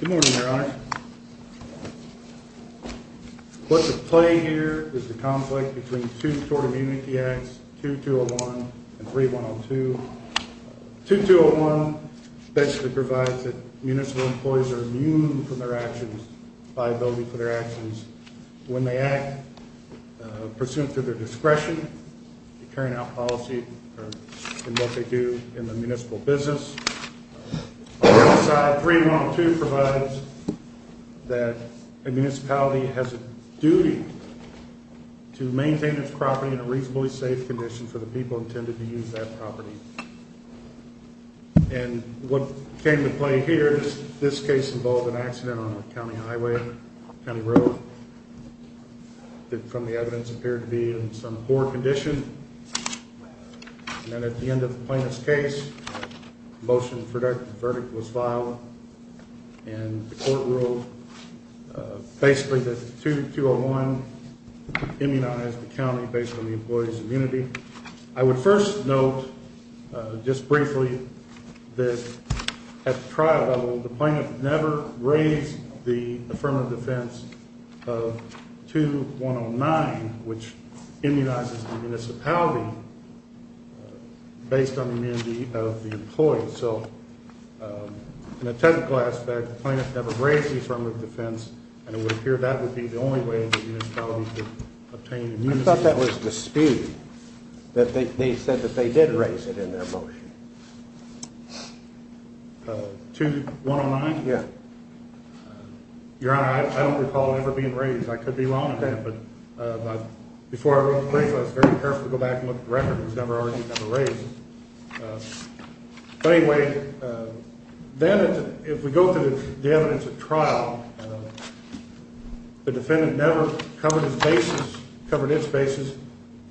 Good morning, Your Honor. What's at play here is the conflict between two tort immunity acts, 2201 and 3102. 2201 basically provides that municipal employees are immune from their actions, liability for their actions when they act pursuant to their discretion, carrying out policy in what they do in the municipal business. On the other side, 3102 provides that a municipality has a duty to maintain its property in a reasonably safe condition for the people intended to use that property. And what came to play here is this case involved an accident on a county highway, county road, that from the evidence appeared to be in some poor condition. And then at the end of the plaintiff's case, a motion for verdict was filed and the court ruled basically that 2201 immunized the county based on the employee's immunity. I would first note just briefly that at the trial level, the plaintiff never raised the affirmative defense of 2109, which immunizes the municipality based on the immunity of the employee. So in a technical aspect, the plaintiff never raised the affirmative defense, and it would appear that would be the only way the municipality could obtain immunity. I thought that was disputed, that they said that they did raise it in their motion. 2109? Yeah. Your Honor, I don't recall it ever being raised. I could be wrong about that, but before I wrote the case, I was very careful to go back and look at the record. It was never argued, never raised. But anyway, then if we go through the evidence at trial, the defendant never covered his basis, covered its basis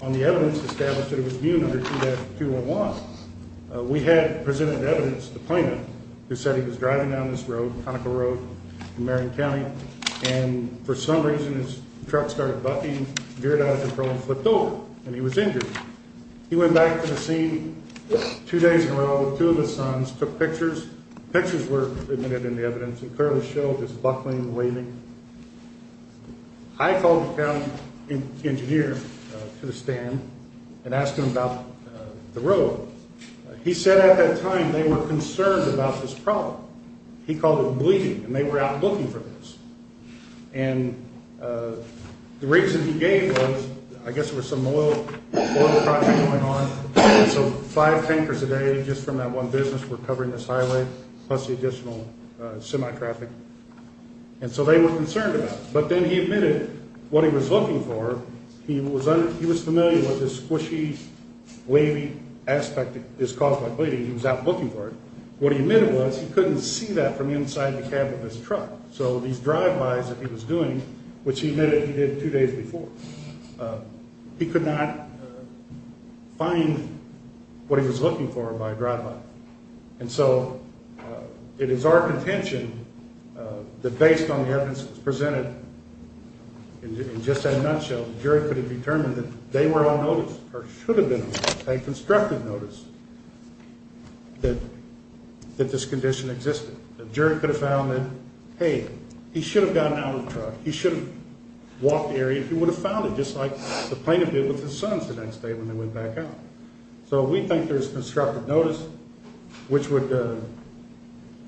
on the evidence established that it was immune under 2201. We had presented evidence to the plaintiff who said he was started bucking, veered out of control, and flipped over, and he was injured. He went back to the scene two days in a row with two of his sons, took pictures. Pictures were admitted in the evidence that clearly showed his buckling, waving. I called the county engineer to the stand and asked him about the road. He said at that time they were concerned about this problem. He called it bleeding, and they were out looking for this. And the reason he gave was, I guess there was some oil project going on, so five tankers a day just from that one business were covering this highway, plus the additional semi-traffic. And so they were concerned about it. But then he admitted what he was looking for. He was familiar with this squishy, wavy aspect that is caused by bleeding. He was out looking for it. What he admitted was he couldn't see that from inside the cab of his truck. So these drive-bys that he was doing, which he admitted he did two days before, he could not find what he was looking for by drive-by. And so it is our contention that based on the evidence that was presented, in just that nutshell, the jury could have determined that they were on notice, or should have been on notice, a constructive notice, that this condition existed. The jury could have found that, hey, he should have gotten out of the truck. He should have walked the area. He would have found it just like the plaintiff did with his sons the next day when they went back out. So we think there's constructive notice which would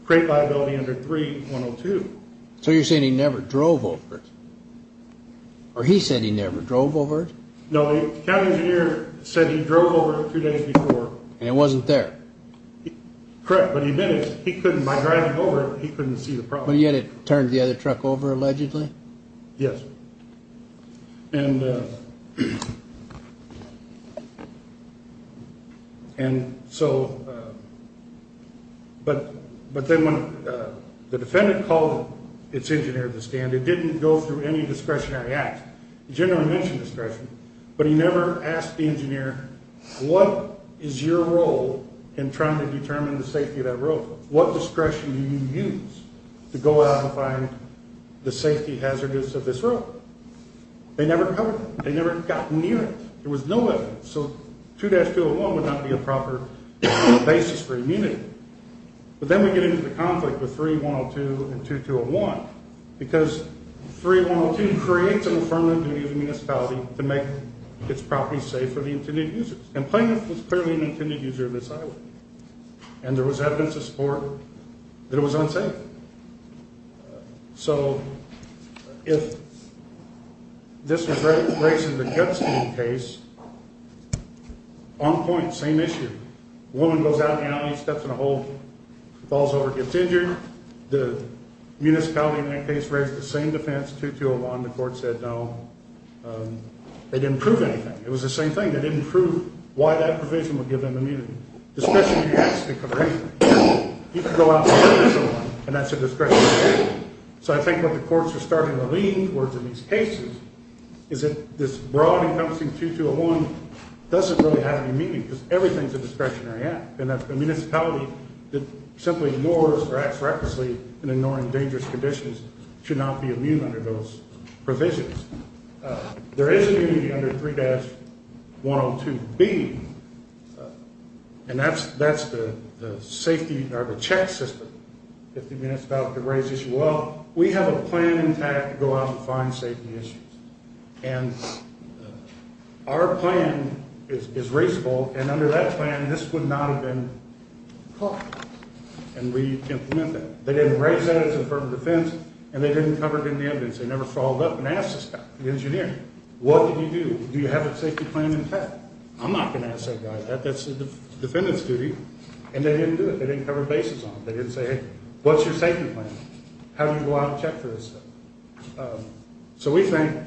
create liability under 3-102. So you're saying he never drove over it? Or he said he never drove over it? No, the cab engineer said he drove over it a few days before. And it wasn't there? Correct. But he admitted he couldn't, by driving over it, he couldn't see the problem. But yet it turned the other truck over, allegedly? Yes. And so, but then when the defendant called its engineer to the stand, it didn't go through any discretionary act. The general mentioned discretion. But he never asked the engineer, what is your role in trying to determine the safety of that road? What discretion do you use to go out and find the safety hazards of this road? They never covered it. They never got near it. There was no evidence. So 2-201 would not be a proper basis for immunity. But then we get into the conflict with 3-102 and 2-201, because 3-102 creates an affirmative duty of the municipality to make its property safe for the intended users. And plaintiff was clearly an intended user of this highway. And there was evidence to support that it was unsafe. So if this was raised in the Gepstein case, on point, same issue. A woman goes out in the alley, steps in a hole, falls over, gets injured. The municipality in that case raised the same defense, 2-201. The court said no. They didn't prove anything. It was the same thing. They didn't prove why that provision would give them immunity. Discretionary acts didn't cover anything. You could go out and murder someone, and that's a discretionary act. So I think what the courts are starting to lean towards in these cases is that this broad, encompassing 2-201 doesn't really have any meaning, because everything's a discretionary act. And a municipality that simply moors or acts recklessly in a non-endangered conditions should not be immune under those provisions. There is immunity under 3-102B, and that's the safety, or the check system, if the municipality could raise the issue. Well, we have a plan in tact to go out and find safety issues. And our plan is reasonable, and under that plan, this would not have been caught. And we implement that. They didn't raise that as an affirmative defense, and they didn't cover it in the evidence. They never followed up and asked this guy, the engineer, what did you do? Do you have a safety plan in tact? I'm not going to ask that guy that. That's the defendant's duty. And they didn't do it. They didn't cover bases on it. They didn't say, hey, what's your safety plan? How do you go out and check for this stuff? So we think,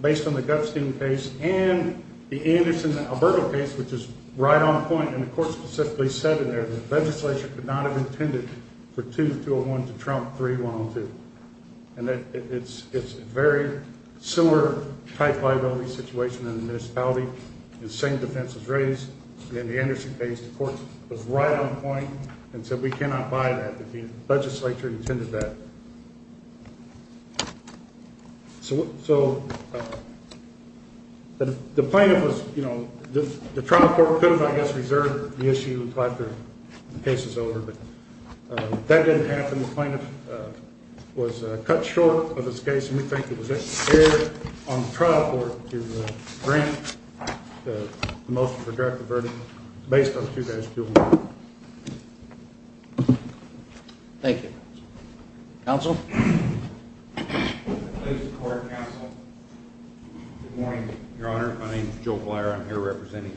based on the Gutstein case and the case itself, it was right on point. And the court specifically said in there that the legislature could not have intended for 2-201 to trump 3-102. And it's a very similar type liability situation in the municipality. The same defense was raised in the Anderson case. The court was right on point and said we cannot buy that. The legislature intended that. So the plaintiff was, you know, the trial court could have, I guess, reserved the issue after the case was over. But that didn't happen. The plaintiff was cut short of his case, and we think it was fair on the trial court to grant the motion for direct averting based on 2-201. Thank you. Counsel? Good morning, Your Honor. My name is Joe Blier. I'm here representing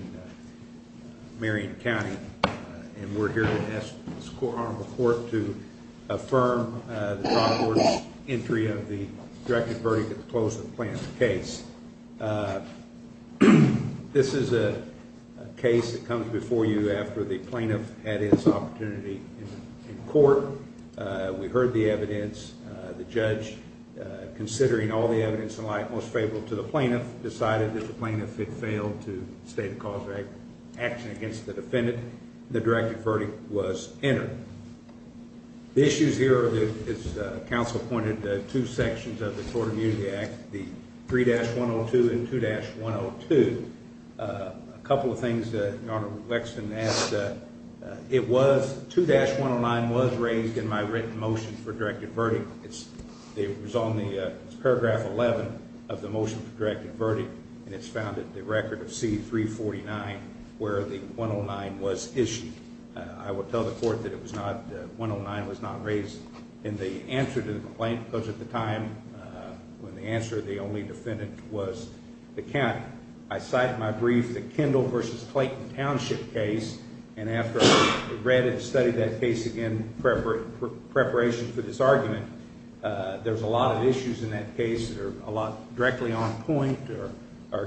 Marion County. And we're here to ask this court to affirm the trial court's entry of the direct averting case. It comes before you after the plaintiff had his opportunity in court. We heard the evidence. The judge, considering all the evidence in light, most favorable to the plaintiff, decided that the plaintiff had failed to state a cause of action against the defendant. The direct averting was entered. The issues here, as counsel pointed, two sections of the Tort Immunity Act, the 3-102 and 2-102. A couple of things, Your Honor, Lexton asked. It was, 2-109 was raised in my written motion for direct averting. It was on the paragraph 11 of the motion for direct averting. And it's found at the record of C-349 where the 109 was issued. I will tell the court that it was not, the 109 was not raised in the answer to the complaint, because at the time, when the answer, the only defendant was the county. I cited my brief, the Kendall v. Clayton Township case, and after I read and studied that case again in preparation for this argument, there's a lot of issues in that case that are a lot directly on point or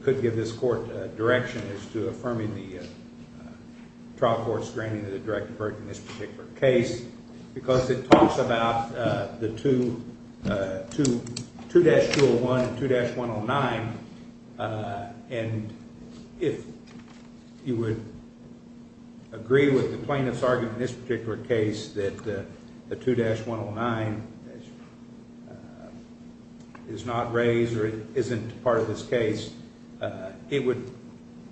could give this court direction as to affirming the trial court's granting of the direct averting in this particular case, because it talks about the 2-201 and 2-109, and if you would agree with the plaintiff's argument in this particular case that the 2-109 is not raised or isn't part of this case, it would,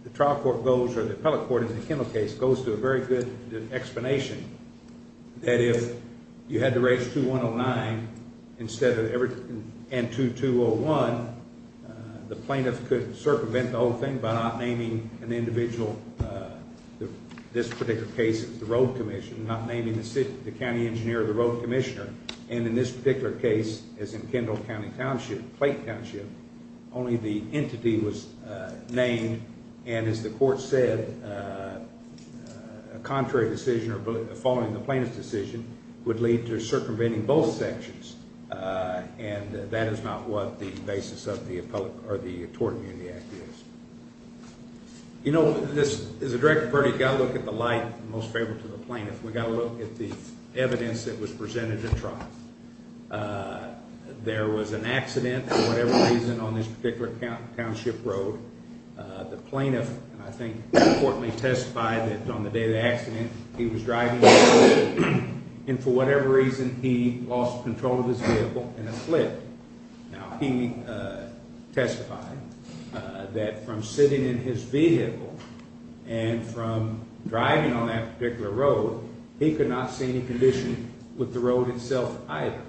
the trial court goes, or the appellate court in the Kendall v. Clayton case goes to a very good explanation that if you had to raise 2-109 instead of every, and 2-201, the plaintiff could circumvent the whole thing by not naming an individual, this particular case, the road commission, not naming the county engineer or the road commissioner. And in this particular case, as in Kendall County Township, Clayton Township, only the entity was named, and as the court said, a contrary decision or following the plaintiff's decision would lead to circumventing both sections, and that is not what the basis of the appellate, or the Tort Immunity Act is. You know, this, as a direct averting, you've got to look at the light most favorable to the plaintiff. We've got to look at the reason on this particular township road, the plaintiff, and I think the court may testify that on the day of the accident, he was driving, and for whatever reason, he lost control of his vehicle and it flipped. Now, he testified that from sitting in his vehicle and from driving on that particular road, he could not see any condition with the road itself either.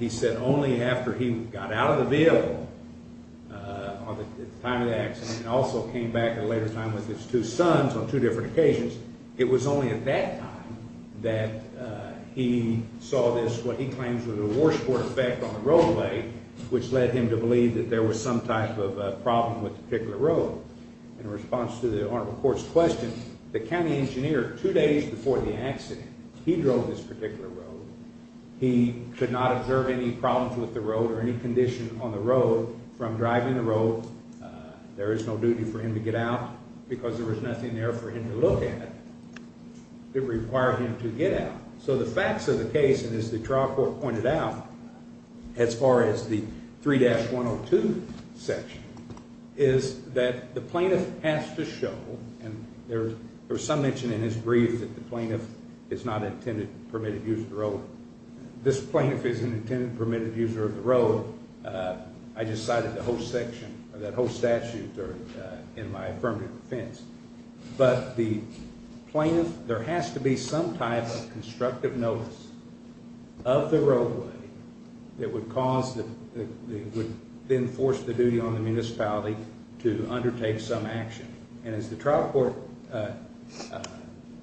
He said only after he got out of the vehicle at the time of the accident, and also came back at a later time with his two sons on two different occasions, it was only at that time that he saw this, what he claims was a washboard effect on the roadway, which led him to believe that there was some type of problem with the particular road. In response to the honorable court's question, the county engineer, two days before the accident, he could not observe any problems with the road or any condition on the road from driving the road. There is no duty for him to get out because there was nothing there for him to look at that required him to get out. So the facts of the case, and as the trial court pointed out, as far as the 3-102 section, is that the plaintiff has to show, and there is a plaintiff, it's not an intended permitted use of the road. This plaintiff is an intended permitted user of the road. I just cited the whole section, that whole statute in my affirmative defense. But the plaintiff, there has to be some type of constructive notice of the roadway that would cause, that would then force the duty on the municipality to undertake some action. And as the trial court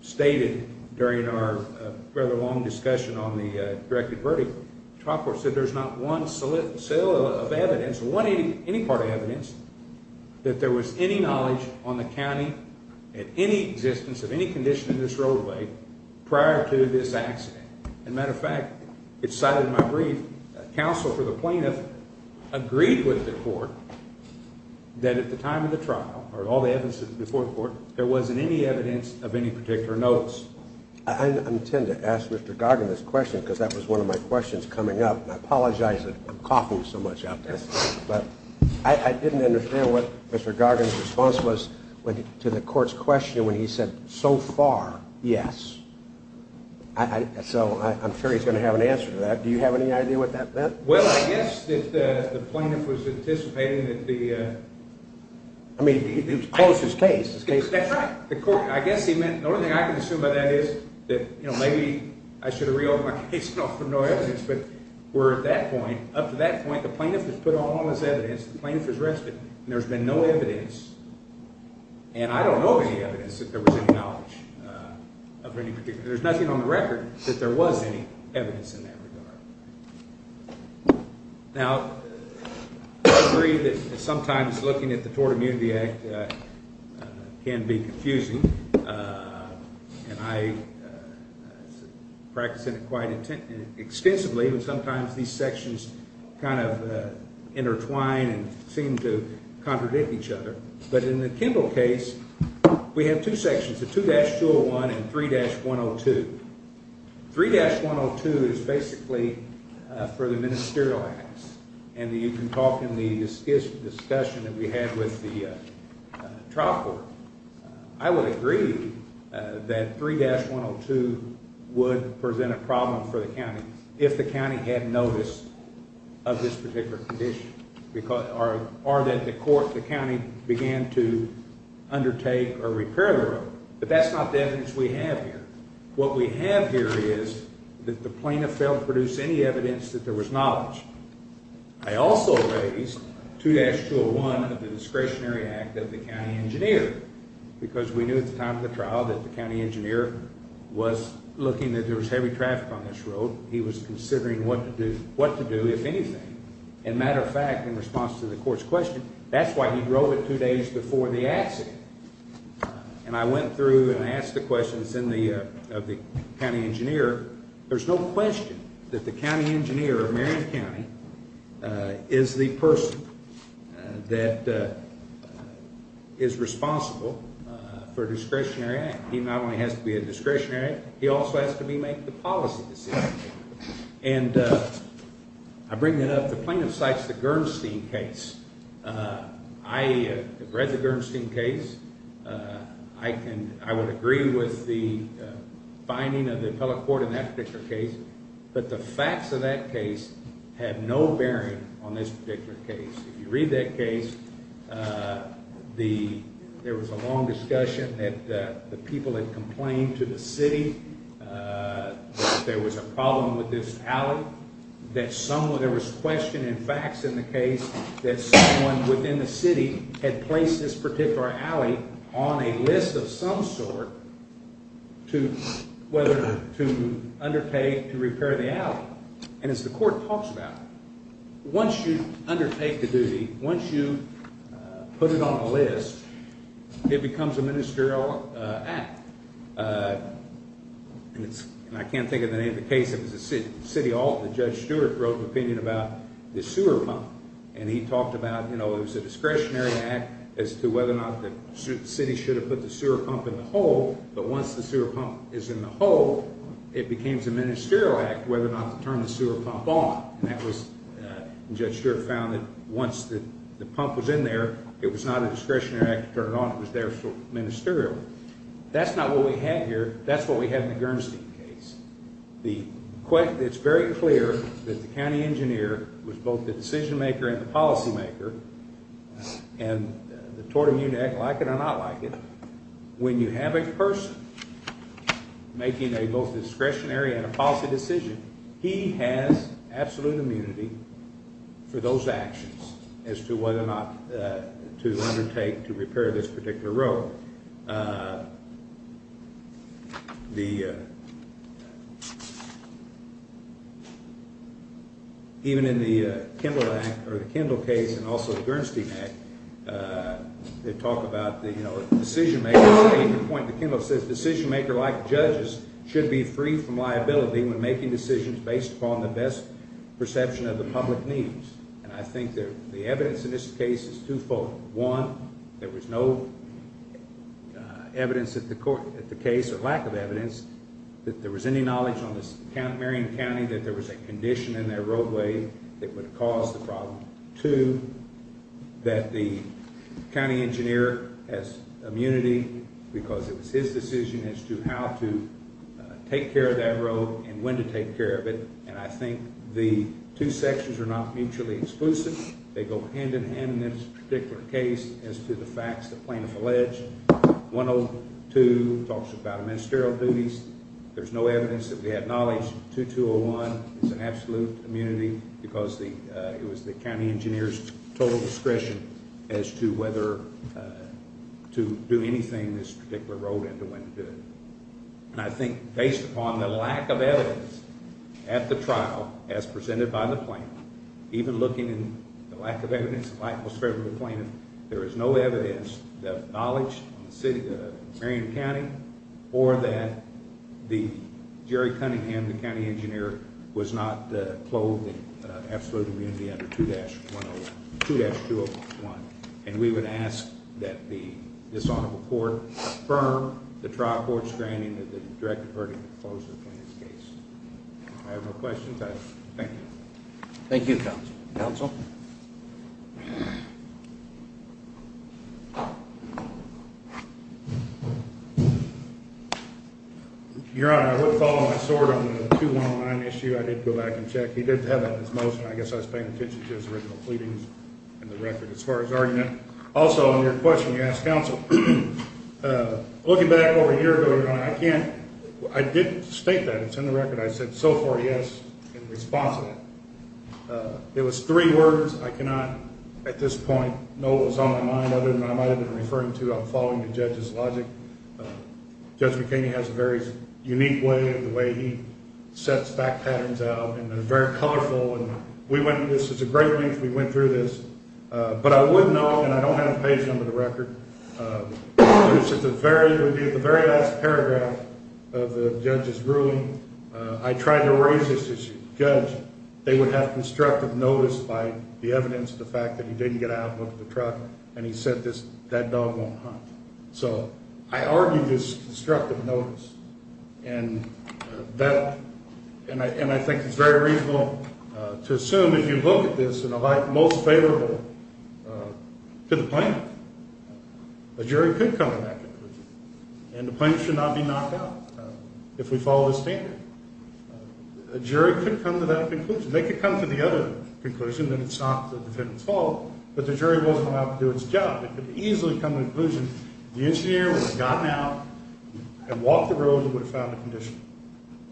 stated during our rather long discussion on the directed verdict, the trial court said there's not one cell of evidence, any part of evidence, that there was any knowledge on the county at any existence of any condition in this roadway prior to this accident. As a matter of fact, it's cited in my brief, counsel for the court, there wasn't any evidence of any particular notes. I intend to ask Mr. Gargan this question, because that was one of my questions coming up, and I apologize that I'm coughing so much out there. But I didn't understand what Mr. Gargan's response was to the court's question when he said, so far, yes. So I'm sure he's going to have an answer to that. Do you have any idea what that meant? Well, I guess that the plaintiff was anticipating that the... I mean, he closed his case. That's right. The court, I guess he meant, the only thing I can assume by that is that maybe I should have reordered my case and offered no evidence. But we're at that point. Up to that point, the plaintiff has put on all this evidence, the plaintiff has rested, and there's been no evidence. And I don't know of any evidence that there was any knowledge of any particular... there's nothing on the record that there was any evidence in that regard. Now, I agree that sometimes looking at the Tort Immunity Act can be confusing, and I practice it quite extensively, but sometimes these sections kind of intertwine and seem to contradict each other. But in the Kimball case, we have two sections, the 2-201 and 3-102. 3-102 is basically for the ministerial acts, and you can talk in the discussion that we had with the trial court. I would agree that 3-102 would present a problem for the court, the county, began to undertake or repair the road. But that's not the evidence we have here. What we have here is that the plaintiff failed to produce any evidence that there was knowledge. I also raised 2-201 of the Discretionary Act of the county engineer, because we knew at the time of the trial that the county engineer was looking that there was heavy traffic on this road. He was considering what to do, if anything. And matter of fact, in response to the court's question, that's why he drove it two days before the accident. And I went through and I asked the questions of the county engineer. There's no question that the county engineer of Marion County is the person that is responsible for a discretionary act. He not only has to be a discretionary, he also has to be making the policy decisions. And I bring that up. The plaintiff cites the Gernstein case. I have read the Gernstein case. I can, I would agree with the finding of the appellate court in that particular case. But the facts of that case have no bearing on this particular case. If you read that case, the, there was a long discussion that the people had complained to the city that there was a problem with this alley, that someone, there was question and facts in the case that someone within the city had placed this particular alley on a list of some sort to, whether to undertake to repair the alley. And as the court talks about, once you undertake the duty, once you put it on the list, it becomes a ministerial act. And it's, and I can't think of the name of the case, it was a city, City Hall, and Judge Stewart wrote an opinion about the sewer pump. And he talked about, you know, it was a discretionary act as to whether or not the city should have put the sewer pump in the hole, but once the sewer pump is in the hole, it becomes a ministerial act whether or not to turn the sewer pump on. And that was, and Judge Stewart found that once the pump was in there, it was not a discretionary act to turn it on, it was there for ministerial. That's not what we have here, that's what we have in the Gernstein case. The, it's very clear that the county engineer was both the decision maker and the policy maker, and the tort immunity act, like it or not like it, when you have a person making a both a discretionary and a policy decision, he has absolute immunity for those actions as to whether or not to undertake to repair this particular road. The, even in the Kindle Act, or the Kindle case, and also the Gernstein Act, they talk about the, you know, the decision maker, the point that Kindle says, decision maker like judges should be free from liability when making decisions based upon the best perception of the public needs. And I think that the evidence in this case is twofold. One, there was no evidence at the court, at the case, or lack of evidence, that there was any knowledge on this Marion County that there was a condition in their roadway that would have caused the problem. Two, that the county engineer has immunity because it was his decision as to how to take care of that road and when to take care of it. And I think the two sections are not mutually exclusive. They go hand in hand in this particular case as to the facts that plaintiff alleged. 102 talks about ministerial duties. There's no evidence that we had knowledge. 2201 is an absolute immunity because the, it was the county engineer's total discretion as to whether to do anything this particular road and to when to do it. And I think based upon the lack of evidence at the trial as presented by the plaintiff, even looking in the lack of evidence, the lack of evidence that the plaintiff, there is no evidence that knowledge on the city of Marion County or that the, Jerry Cunningham, the county engineer, was not clothed in absolute immunity under 2-101, 2-201. And we would ask that the, this honorable court affirm the trial court's granting of the direct verdict in the closure of the plaintiff's case. If I have no questions, I thank you. Thank you, counsel. Your Honor, I would follow my sword on the 2-109 issue. I did go back and check. He did have that in his motion. I guess I was paying attention to his original pleadings in the record as far as argument. Also, on your question, you asked counsel. Looking back over a year ago, Your Honor, I can't, I didn't state that. It's in the record. I said so far, yes, in response to that. It was three words. I cannot at this point know what was on my mind other than I might have been referring to, I'm following the judge's logic. Judge McKinney has a very unique way of the way he sets fact patterns out and they're very colorful. And we went, this is a great length, we went through this. But I would know, and I don't have a page under the record, this is a very, it would be at the very last paragraph of the judge's ruling. I tried to raise this issue. Judge, they would have constructive notice by the evidence of the fact that he didn't get out and look at the truck and he said this, that dog won't hunt. So I argue this constructive notice. And that, and I think it's very reasonable to assume if you look at this in a light most favorable to the plaintiff, a jury could come to that conclusion. And the plaintiff should not be knocked out if we follow the standard. A jury could come to that conclusion. They could come to the other conclusion that it's not the defendant's fault, but the jury wasn't going to have to do its job. It could easily come to the conclusion the engineer would have gotten out and walked the road and would have found a condition.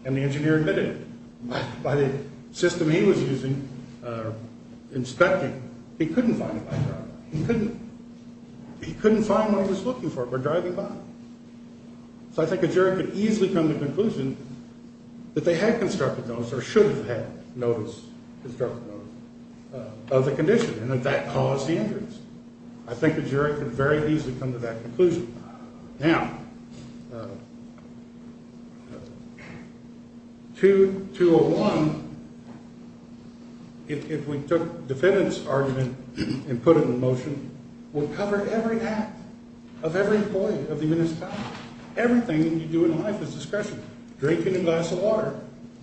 And the engineer admitted it. But by the system he was using, inspecting, he couldn't find it by driving. He couldn't, he couldn't find what he was looking for by driving by. So I think a jury could easily come to the conclusion that they had constructive notice or should have had notice, constructive notice, of the condition and that that caused the injuries. I think the jury could very easily come to that conclusion. Now, 2, 201, if we took defendant's argument and put it in motion, will cover every act of every employee of the municipality. Everything you do in life is discretionary. Drinking a glass of water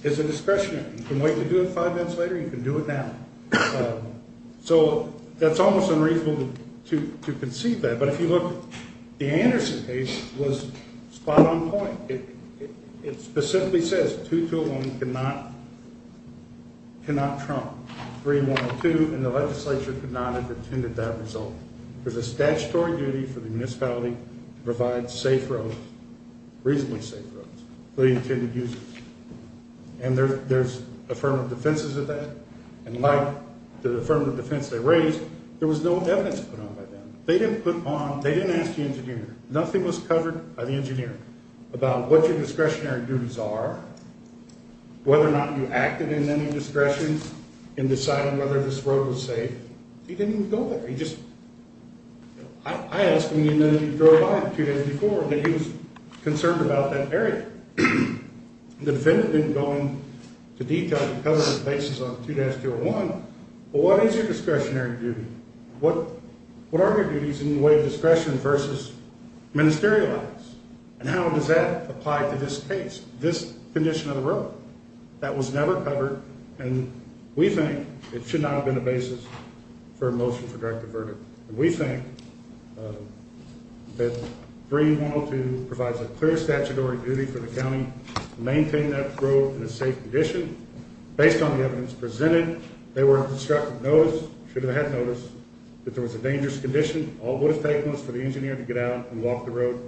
is a discretionary. You can wait to do it five minutes later, you can do it now. So that's almost unreasonable to concede that. But if you look, the Anderson case was spot on point. It specifically says 2, 201 cannot trump 3, 1, 2, and the legislature could not have intended that result. There's a statutory duty for the municipality to provide safe roads, reasonably safe roads, for the intended users. And there's affirmative defenses of that. And like the affirmative defense they raised, there was no evidence put on by them. They didn't ask the engineer. Nothing was covered by the engineer about what your discretionary duties are, whether or not you acted in any discretion in deciding whether this road was safe. He didn't even go there. He just, I asked him, you know, you drove by it two days before, and he was concerned about that area. The defendant didn't go into detail to cover the basis on 2-201, but what is your discretionary duty? What are your duties in the way of discretion versus ministerial acts? And how does that apply to this case, this condition of the road? That was never covered, and we think it should not have been a basis for a motion for direct averted. And we think that 3-102 provides a clear statutory duty for the county to maintain that road in a safe condition. Based on the evidence presented, they were instructed to notice, should have had notice, that there was a dangerous condition. All it would have taken was for the engineer to get out and walk the road.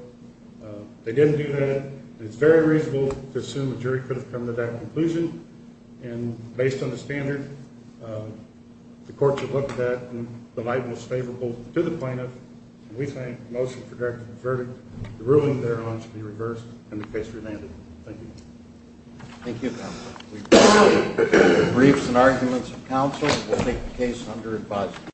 They didn't do that, and it's very reasonable to assume the jury could have come to that conclusion. And based on the standard, the courts have found that 3-102 is favorable to the plaintiff, and we think a motion for direct averted, the ruling thereon should be reversed, and the case remanded. Thank you. Thank you, counsel. We've heard the briefs and arguments of counsel. We'll take the case under advisory.